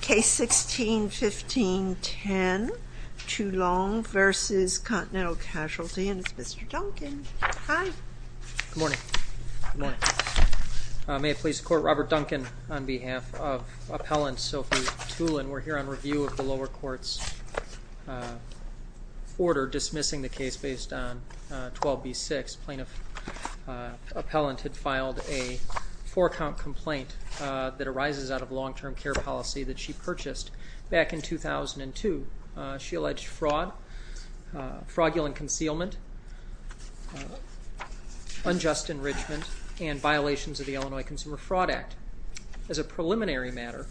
Case 16-15-10, Toulon v. Continental Casualty, and it's Mr. Duncan. Hi. Good morning. Good morning. May it please the Court, Robert Duncan on behalf of Appellant Sophie Toulon, we're here on review of the lower court's order dismissing the case based on 12b-6. This plaintiff, Appellant, had filed a four-count complaint that arises out of long-term care policy that she purchased back in 2002. She alleged fraud, fraudulent concealment, unjust enrichment, and violations of the Illinois Consumer Fraud Act. As a preliminary matter,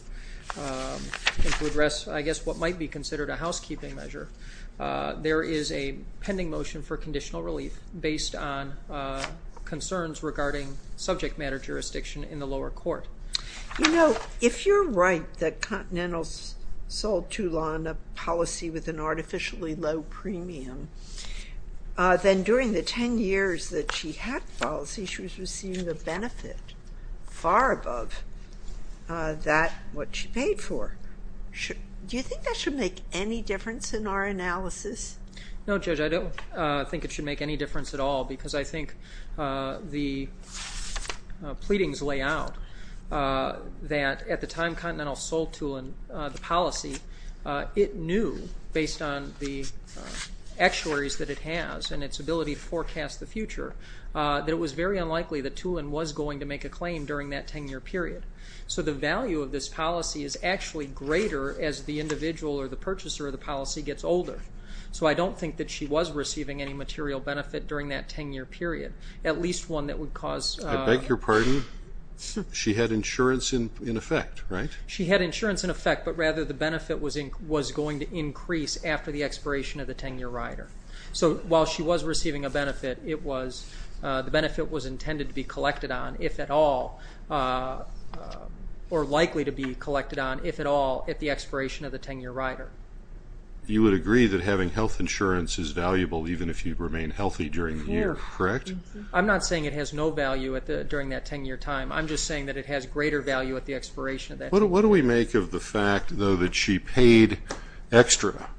to address I guess what might be considered a housekeeping measure, there is a pending motion for conditional relief based on concerns regarding subject matter jurisdiction in the lower court. You know, if you're right that Continental sold Toulon a policy with an artificially low premium, then during the ten years that she had the policy, she was receiving a benefit far above that what she paid for. Do you think that should make any difference in our analysis? No, Judge, I don't think it should make any difference at all, because I think the pleadings lay out that at the time Continental sold Toulon the policy, it knew, based on the actuaries that it has and its ability to forecast the future, that it was very unlikely that Toulon was going to make a claim during that ten-year period. So the value of this policy is actually greater as the individual or the purchaser of the policy gets older. So I don't think that she was receiving any material benefit during that ten-year period, at least one that would cause... I beg your pardon? She had insurance in effect, right? She had insurance in effect, but rather the benefit was going to increase after the expiration of the ten-year rider. So while she was receiving a benefit, the benefit was intended to be collected on, if at all, or likely to be collected on, if at all, at the expiration of the ten-year rider. You would agree that having health insurance is valuable even if you remain healthy during the year, correct? I'm not saying it has no value during that ten-year time. I'm just saying that it has greater value at the expiration of that ten-year rider. What do we make of the fact, though, that she paid extra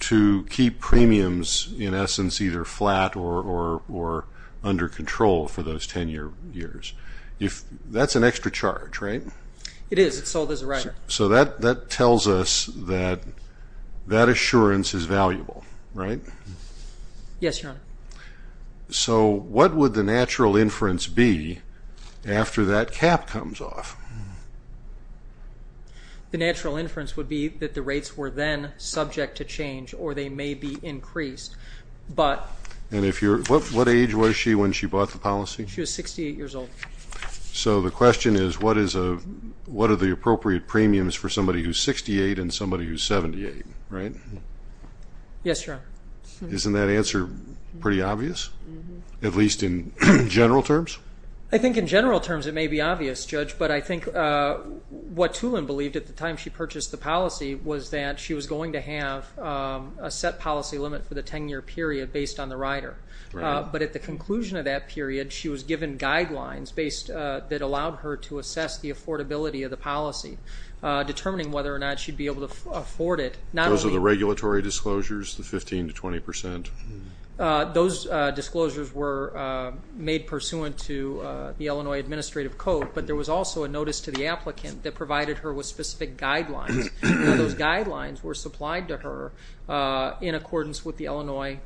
to keep premiums, in essence, either flat or under control for those ten years? That's an extra charge, right? It is. It's sold as a rider. So that tells us that that assurance is valuable, right? Yes, Your Honor. So what would the natural inference be after that cap comes off? The natural inference would be that the rates were then subject to change, or they may be increased, but... And what age was she when she bought the policy? She was 68 years old. So the question is, what are the appropriate premiums for somebody who's 68 and somebody who's 78, right? Yes, Your Honor. Isn't that answer pretty obvious, at least in general terms? I think in general terms it may be obvious, Judge, but I think what Tulin believed at the time she purchased the policy was that she was going to have a set policy limit for the ten-year period based on the rider. But at the conclusion of that period, she was given guidelines that allowed her to assess the affordability of the policy, determining whether or not she'd be able to afford it. Those are the regulatory disclosures, the 15 to 20 percent? Those disclosures were made pursuant to the Illinois Administrative Code, but there was also a notice to the applicant that provided her with specific guidelines. Those guidelines were supplied to her in accordance with the Illinois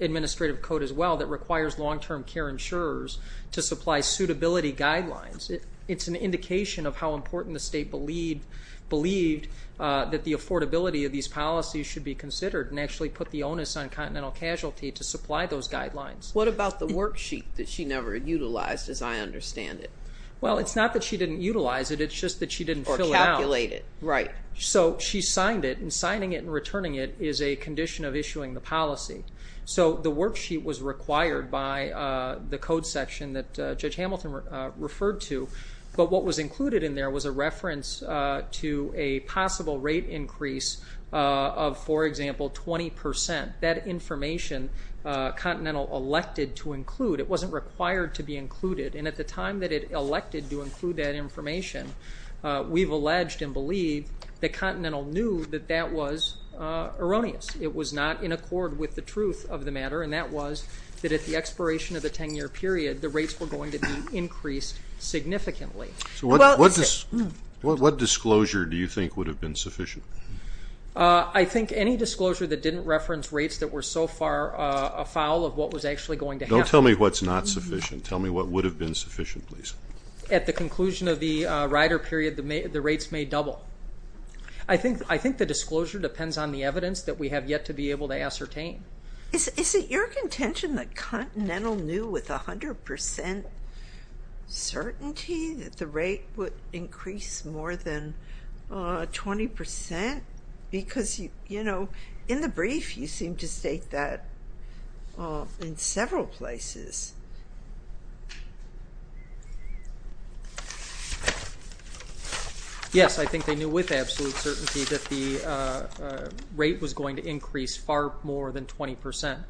Administrative Code as well that requires long-term care insurers to supply suitability guidelines. It's an indication of how important the state believed that the affordability of these policies should be considered and actually put the onus on continental casualty to supply those guidelines. What about the worksheet that she never utilized, as I understand it? Well, it's not that she didn't utilize it, it's just that she didn't fill it out. Or calculate it, right. So she signed it, and signing it and returning it is a condition of issuing the policy. So the worksheet was required by the code section that Judge Hamilton referred to, but what was included in there was a reference to a possible rate increase of, for example, 20 percent. That information, Continental elected to include. It wasn't required to be included, and at the time that it elected to include that information, we've alleged and believed that Continental knew that that was erroneous. It was not in accord with the truth of the matter, and that was that at the expiration of the 10-year period, the rates were going to be increased significantly. What disclosure do you think would have been sufficient? I think any disclosure that didn't reference rates that were so far afoul of what was actually going to happen. Don't tell me what's not sufficient. Tell me what would have been sufficient, please. At the conclusion of the rider period, the rates may double. I think the disclosure depends on the evidence that we have yet to be able to ascertain. Is it your contention that Continental knew with 100 percent certainty that the rate would increase more than 20 percent? Because in the brief, you seem to state that in several places. Yes, I think they knew with absolute certainty that the rate was going to increase far more than 20 percent.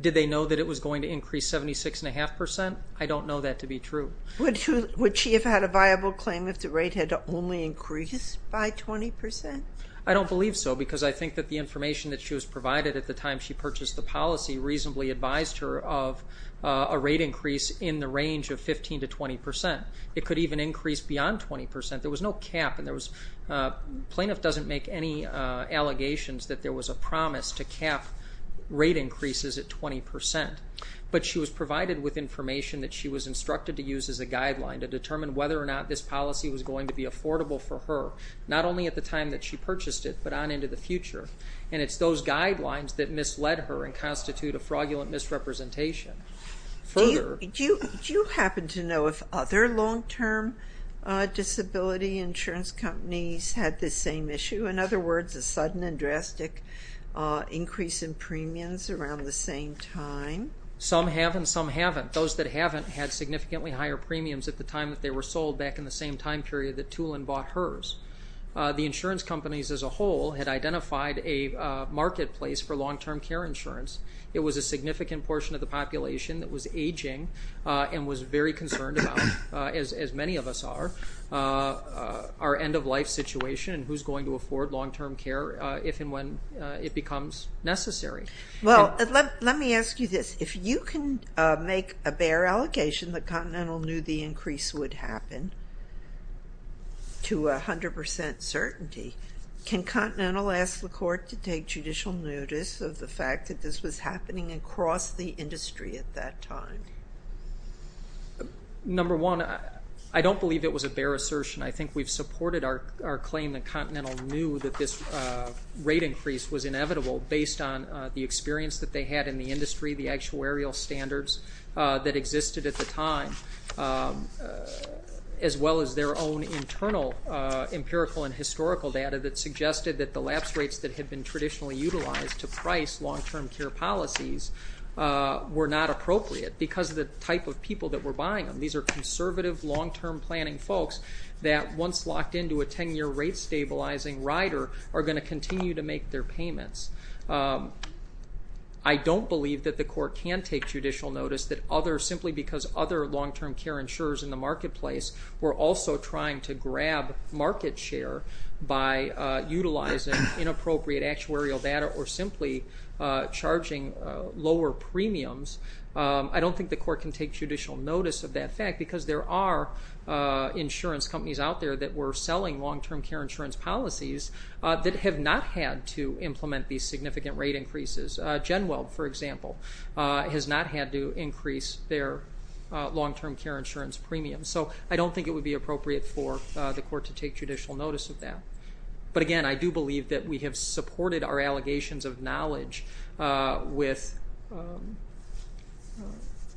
Did they know that it was going to increase 76.5 percent? I don't know that to be true. Would she have had a viable claim if the rate had only increased by 20 percent? I don't believe so, because I think that the information that she was provided at the time she purchased the policy reasonably advised her of a rate increase in the range of 15 to 20 percent. It could even increase beyond 20 percent. There was no cap, and plaintiff doesn't make any allegations that there was a promise to cap rate increases at 20 percent. But she was provided with information that she was instructed to use as a guideline to determine whether or not this policy was going to be affordable for her, not only at the time that she purchased it, but on into the future. And it's those guidelines that misled her and constitute a fraudulent misrepresentation. Do you happen to know if other long-term disability insurance companies had this same issue? In other words, a sudden and drastic increase in premiums around the same time? Some have and some haven't. Those that haven't had significantly higher premiums at the time that they were sold, back in the same time period that Tulin bought hers. The insurance companies as a whole had identified a marketplace for long-term care insurance. It was a significant portion of the population that was aging and was very concerned about, as many of us are, our end-of-life situation and who's going to afford long-term care if and when it becomes necessary. Well, let me ask you this. If you can make a bare allegation that Continental knew the increase would happen to 100% certainty, can Continental ask the Court to take judicial notice of the fact that this was happening across the industry at that time? Number one, I don't believe it was a bare assertion. I think we've supported our claim that Continental knew that this rate increase was inevitable based on the experience that they had in the industry, the actuarial standards that existed at the time, as well as their own internal empirical and historical data that suggested that the lapse rates that had been traditionally utilized to price long-term care policies were not appropriate because of the type of people that were buying them. These are conservative, long-term planning folks that, once locked into a 10-year rate-stabilizing rider, are going to continue to make their payments. I don't believe that the Court can take judicial notice that others, simply because other long-term care insurers in the marketplace were also trying to grab market share by utilizing inappropriate actuarial data or simply charging lower premiums. I don't think the Court can take judicial notice of that fact because there are insurance companies out there that were selling long-term care insurance policies that have not had to implement these significant rate increases. Genweld, for example, has not had to increase their long-term care insurance premiums. So I don't think it would be appropriate for the Court to take judicial notice of that. But again, I do believe that we have supported our allegations of knowledge with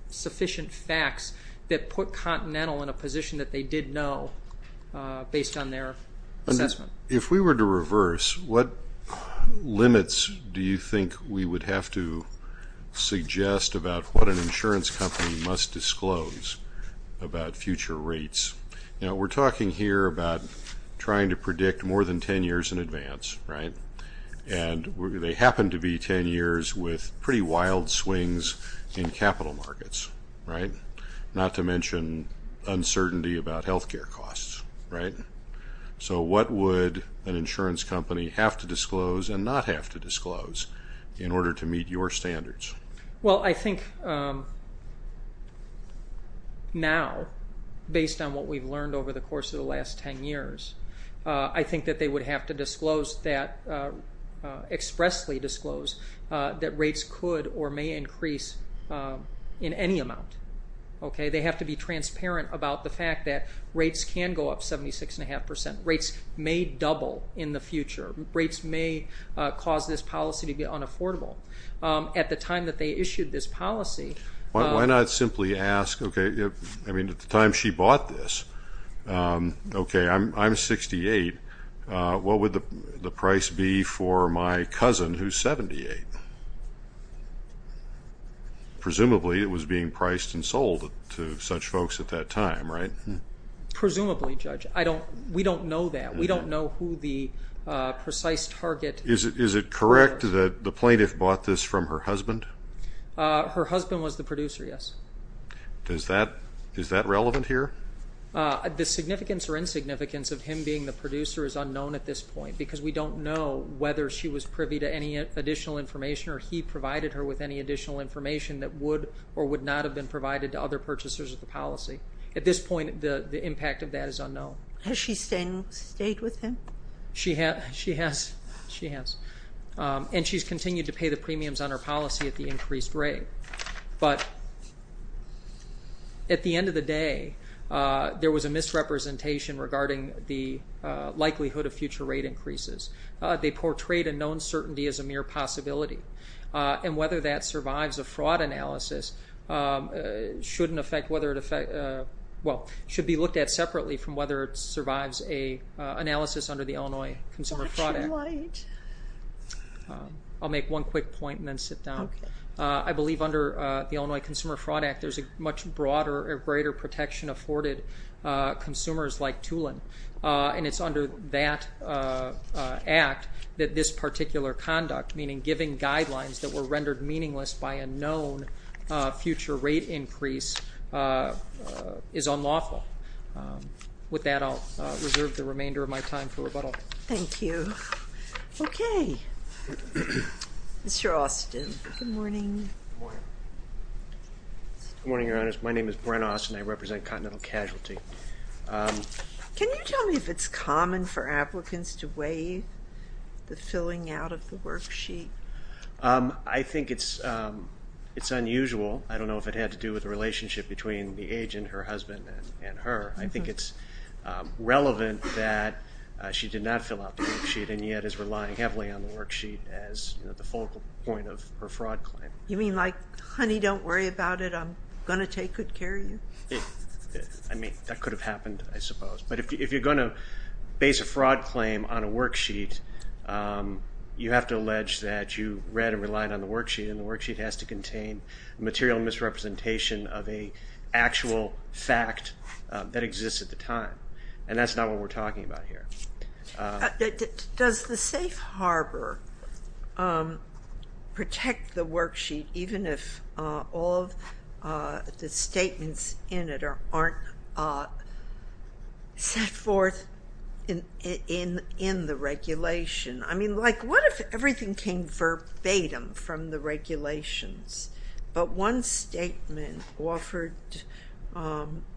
sufficient facts that put Continental in a position that they did know based on their assessment. If we were to reverse, what limits do you think we would have to suggest about what an insurance company must disclose about future rates? We're talking here about trying to predict more than 10 years in advance, right? And they happen to be 10 years with pretty wild swings in capital markets, right? Not to mention uncertainty about health care costs, right? So what would an insurance company have to disclose and not have to disclose in order to meet your standards? Well, I think now, based on what we've learned over the course of the last 10 years, I think that they would have to disclose that, expressly disclose, that rates could or may increase in any amount, okay? They have to be transparent about the fact that rates can go up 76.5 percent. Rates may double in the future. Rates may cause this policy to be unaffordable. At the time that they issued this policy... Why not simply ask, okay, I mean, at the time she bought this, okay, I'm 68, what would the price be for my cousin who's 78? Presumably it was being priced and sold to such folks at that time, right? Presumably, Judge. We don't know that. We don't know who the precise target... Is it correct that the plaintiff bought this from her husband? Her husband was the producer, yes. Is that relevant here? The significance or insignificance of him being the producer is unknown at this point because we don't know whether she was privy to any additional information or he provided her with any additional information that would or would not have been provided to other purchasers of the policy. At this point, the impact of that is unknown. Has she stayed with him? She has. And she's continued to pay the premiums on her policy at the increased rate. But at the end of the day, there was a misrepresentation regarding the likelihood of future rate increases. They portrayed a known certainty as a mere possibility, and whether that survives a fraud analysis should be looked at separately from whether it survives an analysis under the Illinois Consumer Fraud Act. I'll make one quick point and then sit down. I believe under the Illinois Consumer Fraud Act, there's a much broader or greater protection afforded consumers like Tulin, and it's under that act that this particular conduct, meaning giving guidelines that were rendered meaningless by a known future rate increase, is unlawful. With that, I'll reserve the remainder of my time for rebuttal. Thank you. Okay. Mr. Austin, good morning. Good morning. Good morning, Your Honors. My name is Brent Austin. I represent Continental Casualty. Can you tell me if it's common for applicants to weigh the filling out of the worksheet? I think it's unusual. I don't know if it had to do with the relationship between the agent, her husband, and her. I think it's relevant that she did not fill out the worksheet and yet is relying heavily on the worksheet as the focal point of her fraud claim. You mean like, honey, don't worry about it. I'm going to take good care of you? I mean, that could have happened, I suppose. But if you're going to base a fraud claim on a worksheet, you have to allege that you read and relied on the worksheet, and the worksheet has to contain material misrepresentation of an actual fact that exists at the time, and that's not what we're talking about here. Does the safe harbor protect the worksheet even if all of the statements in it aren't set forth in the regulation? I mean, like what if everything came verbatim from the regulations but one statement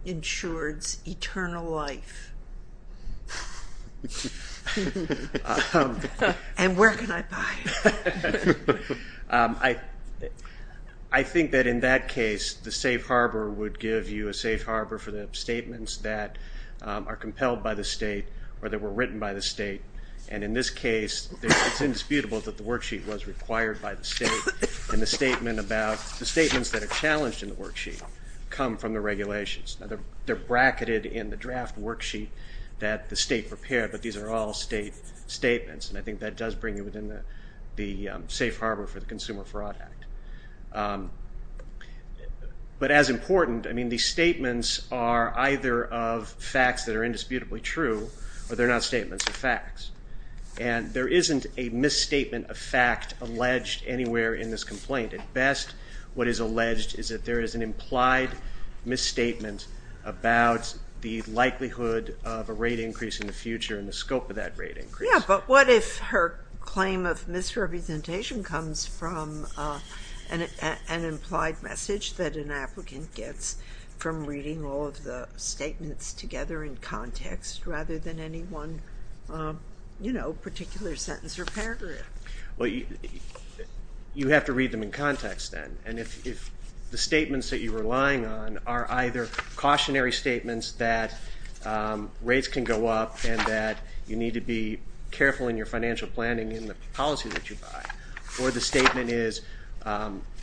insured eternal life? And where can I buy it? I think that in that case, the safe harbor would give you a safe harbor for the statements that are compelled by the state or that were written by the state, and in this case it's indisputable that the worksheet was required by the state, and the statements that are challenged in the worksheet come from the regulations. They're bracketed in the draft worksheet that the state prepared, but these are all state statements, and I think that does bring you within the safe harbor for the Consumer Fraud Act. But as important, I mean, these statements are either of facts that are indisputably true or they're not statements of facts, and there isn't a misstatement of fact alleged anywhere in this complaint. At best, what is alleged is that there is an implied misstatement about the likelihood of a rate increase in the future and the scope of that rate increase. Yeah, but what if her claim of misrepresentation comes from an implied message that an applicant gets from reading all of the statements together in context rather than any one particular sentence or paragraph? Well, you have to read them in context then, and if the statements that you're relying on are either cautionary statements that rates can go up and that you need to be careful in your financial planning in the policy that you buy, or the statement is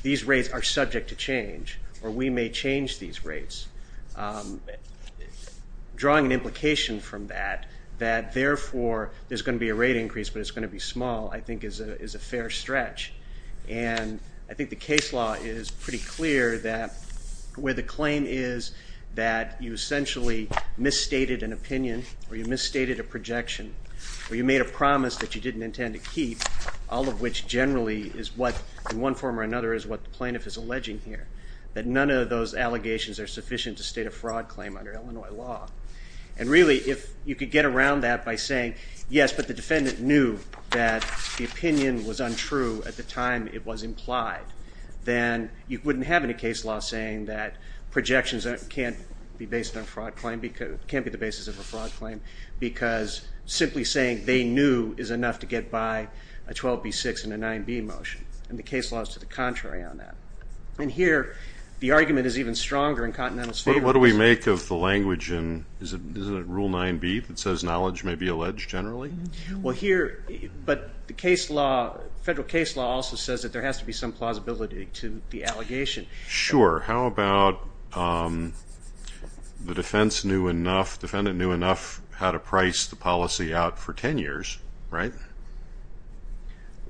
these rates are subject to change or we may change these rates, drawing an implication from that, that therefore there's going to be a rate increase but it's going to be small, I think is a fair stretch. And I think the case law is pretty clear that where the claim is that you essentially misstated an opinion or you misstated a projection or you made a promise that you didn't intend to keep, all of which generally is what, in one form or another, is what the plaintiff is alleging here, that none of those allegations are sufficient to state a fraud claim under Illinois law. And really, if you could get around that by saying, yes, but the defendant knew that the opinion was untrue at the time it was implied, then you wouldn't have any case law saying that projections can't be the basis of a fraud claim because simply saying they knew is enough to get by a 12B6 and a 9B motion, and the case law is to the contrary on that. And here, the argument is even stronger in Continental's favor. What do we make of the language in, isn't it Rule 9B, that says knowledge may be alleged generally? Well, here, but the case law, federal case law also says that there has to be some plausibility to the allegation. Sure. How about the defense knew enough, defendant knew enough how to price the policy out for 10 years, right?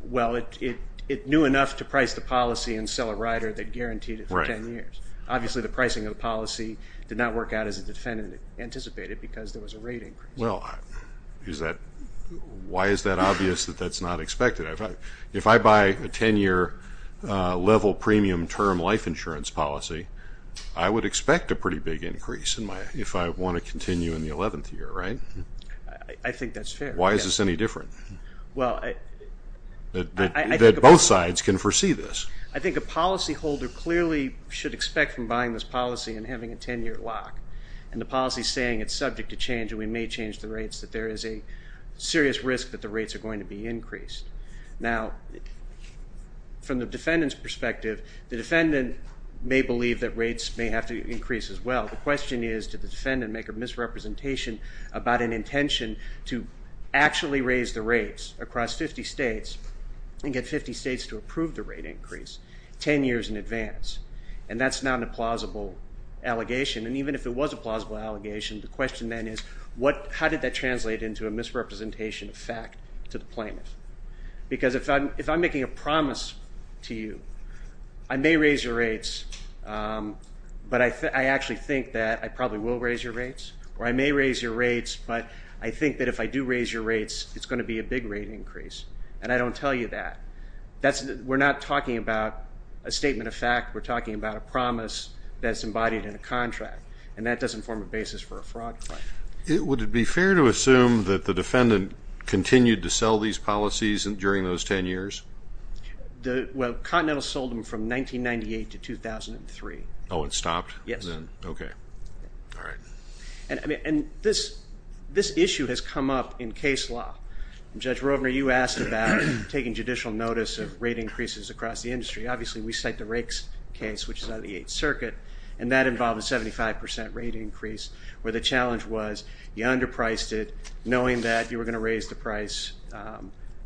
Well, it knew enough to price the policy and sell a rider that guaranteed it for 10 years. Obviously, the pricing of the policy did not work out as the defendant anticipated because there was a rate increase. Well, why is that obvious that that's not expected? If I buy a 10-year level premium term life insurance policy, I would expect a pretty big increase if I want to continue in the 11th year, right? I think that's fair. Why is this any different, that both sides can foresee this? I think a policyholder clearly should expect from buying this policy and having a 10-year lock. And the policy is saying it's subject to change and we may change the rates, that there is a serious risk that the rates are going to be increased. Now, from the defendant's perspective, the defendant may believe that rates may have to increase as well. The question is, did the defendant make a misrepresentation about an intention to actually raise the rates across 50 states and get 50 states to approve the rate increase 10 years in advance? And that's not a plausible allegation. And even if it was a plausible allegation, the question then is how did that translate into a misrepresentation of fact to the plaintiff? Because if I'm making a promise to you, I may raise your rates, but I actually think that I probably will raise your rates, or I may raise your rates, but I think that if I do raise your rates, it's going to be a big rate increase. And I don't tell you that. We're not talking about a statement of fact. We're talking about a promise that's embodied in a contract, and that doesn't form a basis for a fraud claim. Would it be fair to assume that the defendant continued to sell these policies during those 10 years? Well, Continental sold them from 1998 to 2003. Oh, it stopped? Yes. Okay. All right. And this issue has come up in case law. Judge Rovner, you asked about taking judicial notice of rate increases across the industry. Obviously, we cite the Rakes case, which is out of the Eighth Circuit, and that involved a 75% rate increase, where the challenge was you underpriced it, knowing that you were going to raise the price,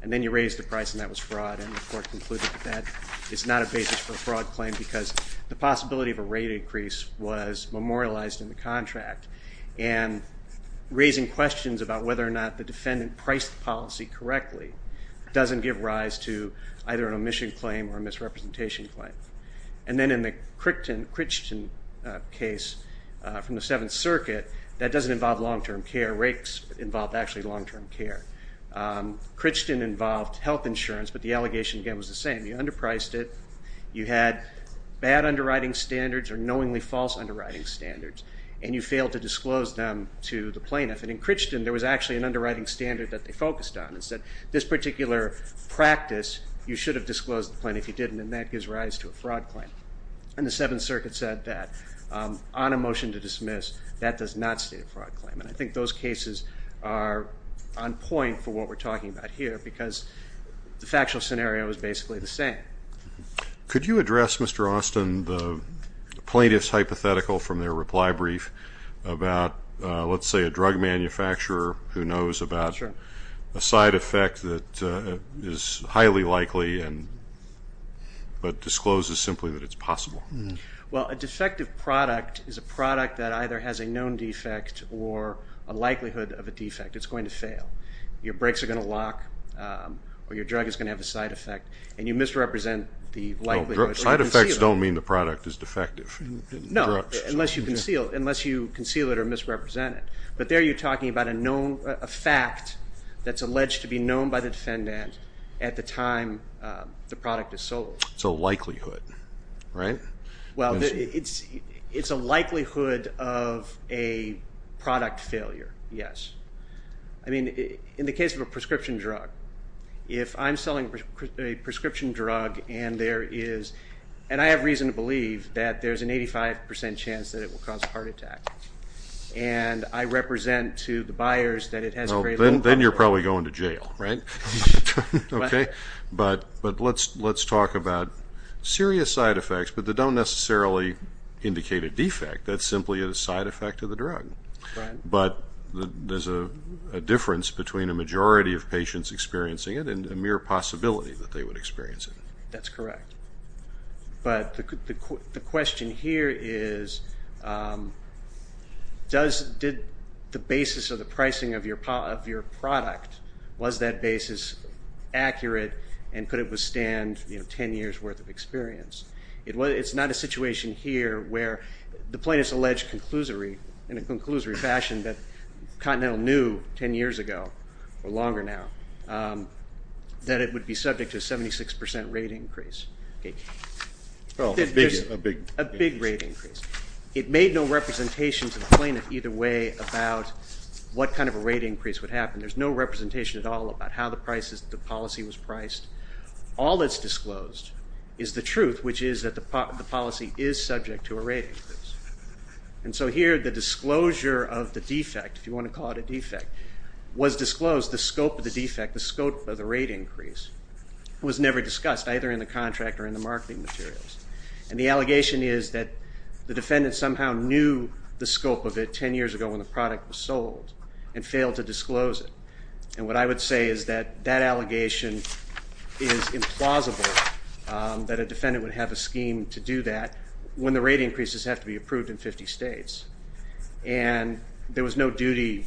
and then you raised the price, and that was fraud. And the court concluded that that is not a basis for a fraud claim because the possibility of a rate increase was memorialized in the contract. And raising questions about whether or not the defendant priced the policy correctly doesn't give rise to either an omission claim or a misrepresentation claim. And then in the Crichton case from the Seventh Circuit, that doesn't involve long-term care. Rakes involved actually long-term care. Crichton involved health insurance, but the allegation again was the same. You underpriced it. You had bad underwriting standards or knowingly false underwriting standards, and you failed to disclose them to the plaintiff. And in Crichton, there was actually an underwriting standard that they focused on. It said this particular practice, you should have disclosed to the plaintiff. If you didn't, then that gives rise to a fraud claim. And the Seventh Circuit said that on a motion to dismiss, that does not state a fraud claim. And I think those cases are on point for what we're talking about here because the factual scenario is basically the same. Could you address, Mr. Austin, the plaintiff's hypothetical from their reply brief about let's say a drug manufacturer who knows about a side effect that is highly likely but discloses simply that it's possible? Well, a defective product is a product that either has a known defect or a likelihood of a defect. It's going to fail. Your brakes are going to lock or your drug is going to have a side effect, and you misrepresent the likelihood. Side effects don't mean the product is defective. No, unless you conceal it or misrepresent it. But there you're talking about a fact that's alleged to be known by the defendant at the time the product is sold. It's a likelihood, right? Well, it's a likelihood of a product failure, yes. I mean, in the case of a prescription drug, if I'm selling a prescription drug and there is, and I have reason to believe that there's an 85% chance that it will cause a heart attack, and I represent to the buyers that it has a very low probability. Then you're probably going to jail, right? But let's talk about serious side effects, but they don't necessarily indicate a defect. That's simply a side effect of the drug. But there's a difference between a majority of patients experiencing it and a mere possibility that they would experience it. That's correct. But the question here is did the basis of the pricing of your product, was that basis accurate and could it withstand 10 years' worth of experience? It's not a situation here where the plaintiff's alleged in a conclusory fashion that Continental knew 10 years ago, or longer now, that it would be subject to a 76% rate increase. Oh, a big increase. A big rate increase. It made no representation to the plaintiff either way about what kind of a rate increase would happen. There's no representation at all about how the policy was priced. All that's disclosed is the truth, which is that the policy is subject to a rate increase. And so here the disclosure of the defect, if you want to call it a defect, was disclosed, the scope of the defect, the scope of the rate increase, was never discussed either in the contract or in the marketing materials. And the allegation is that the defendant somehow knew the scope of it 10 years ago when the product was sold and failed to disclose it. And what I would say is that that allegation is implausible, that a defendant would have a scheme to do that when the rate increases have to be approved in 50 states. And there was no duty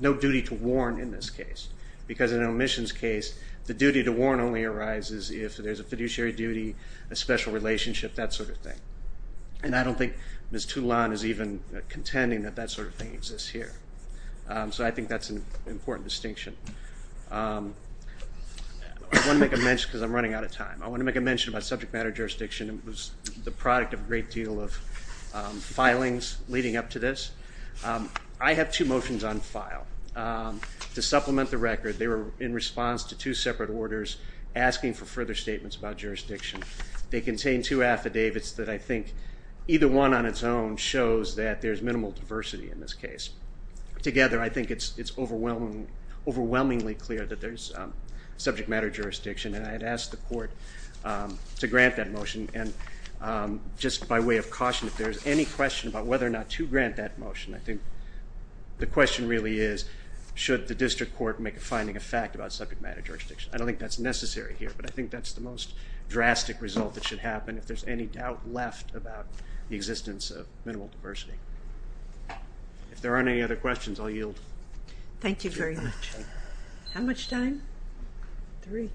to warn in this case because in an omissions case the duty to warn only arises if there's a fiduciary duty, a special relationship, that sort of thing. And I don't think Ms. Toulon is even contending that that sort of thing exists here. So I think that's an important distinction. I want to make a mention because I'm running out of time. I want to make a mention about subject matter jurisdiction. It was the product of a great deal of filings leading up to this. I have two motions on file. To supplement the record, they were in response to two separate orders asking for further statements about jurisdiction. They contain two affidavits that I think either one on its own shows that there's minimal diversity in this case. Together, I think it's overwhelmingly clear that there's subject matter jurisdiction, and I'd ask the Court to grant that motion. And just by way of caution, if there's any question about whether or not to grant that motion, I think the question really is should the district court make a finding of fact about subject matter jurisdiction. I don't think that's necessary here, but I think that's the most drastic result that should happen if there's any doubt left about the existence of minimal diversity. If there aren't any other questions, I'll yield. Thank you very much. How much time? Three.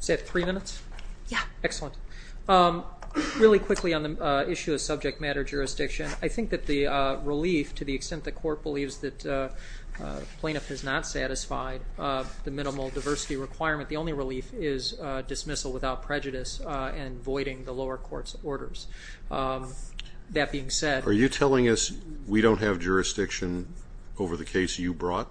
Is that three minutes? Yeah. Excellent. Really quickly on the issue of subject matter jurisdiction, I think that the relief to the extent the Court believes that the plaintiff is not satisfied, the minimal diversity requirement, the only relief is dismissal without prejudice and voiding the lower court's orders. That being said. Are you telling us we don't have jurisdiction over the case you brought?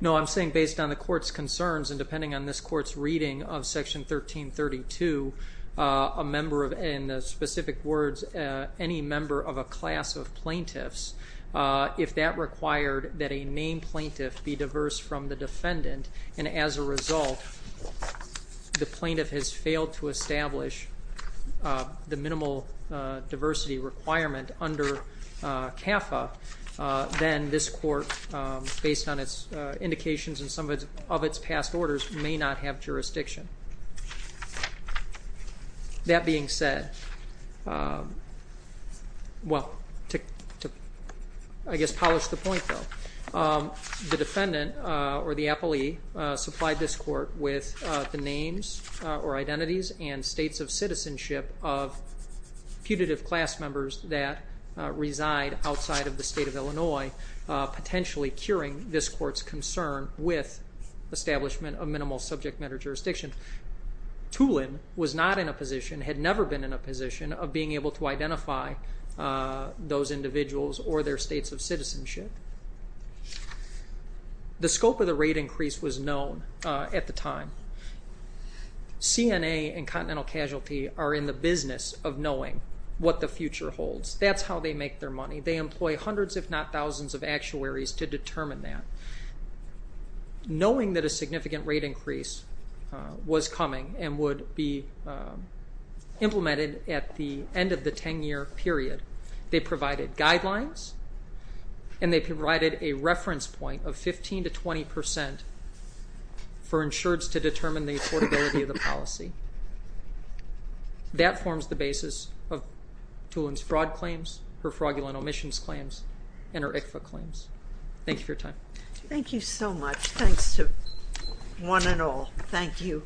No. I'm saying based on the Court's concerns and depending on this Court's reading of Section 1332, in the specific words, any member of a class of plaintiffs, if that required that a named plaintiff be diverse from the defendant, and as a result the plaintiff has failed to establish the minimal diversity requirement under CAFA, then this Court, based on its indications and some of its past orders, may not have jurisdiction. That being said, well, to I guess polish the point, though, the defendant or the appellee supplied this Court with the names or identities and states of citizenship of putative class members that reside outside of the state of Illinois, potentially curing this Court's concern with establishment of minimal subject matter jurisdiction. Tulin was not in a position, had never been in a position, of being able to identify those individuals or their states of citizenship. The scope of the rate increase was known at the time. CNA and Continental Casualty are in the business of knowing what the future holds. That's how they make their money. They employ hundreds, if not thousands, of actuaries to determine that. Knowing that a significant rate increase was coming and would be implemented at the end of the 10-year period. They provided guidelines, and they provided a reference point of 15% to 20% for insureds to determine the affordability of the policy. That forms the basis of Tulin's fraud claims, her fraudulent omissions claims, and her ICFA claims. Thank you for your time. Thank you so much. Thanks to one and all. Thank you.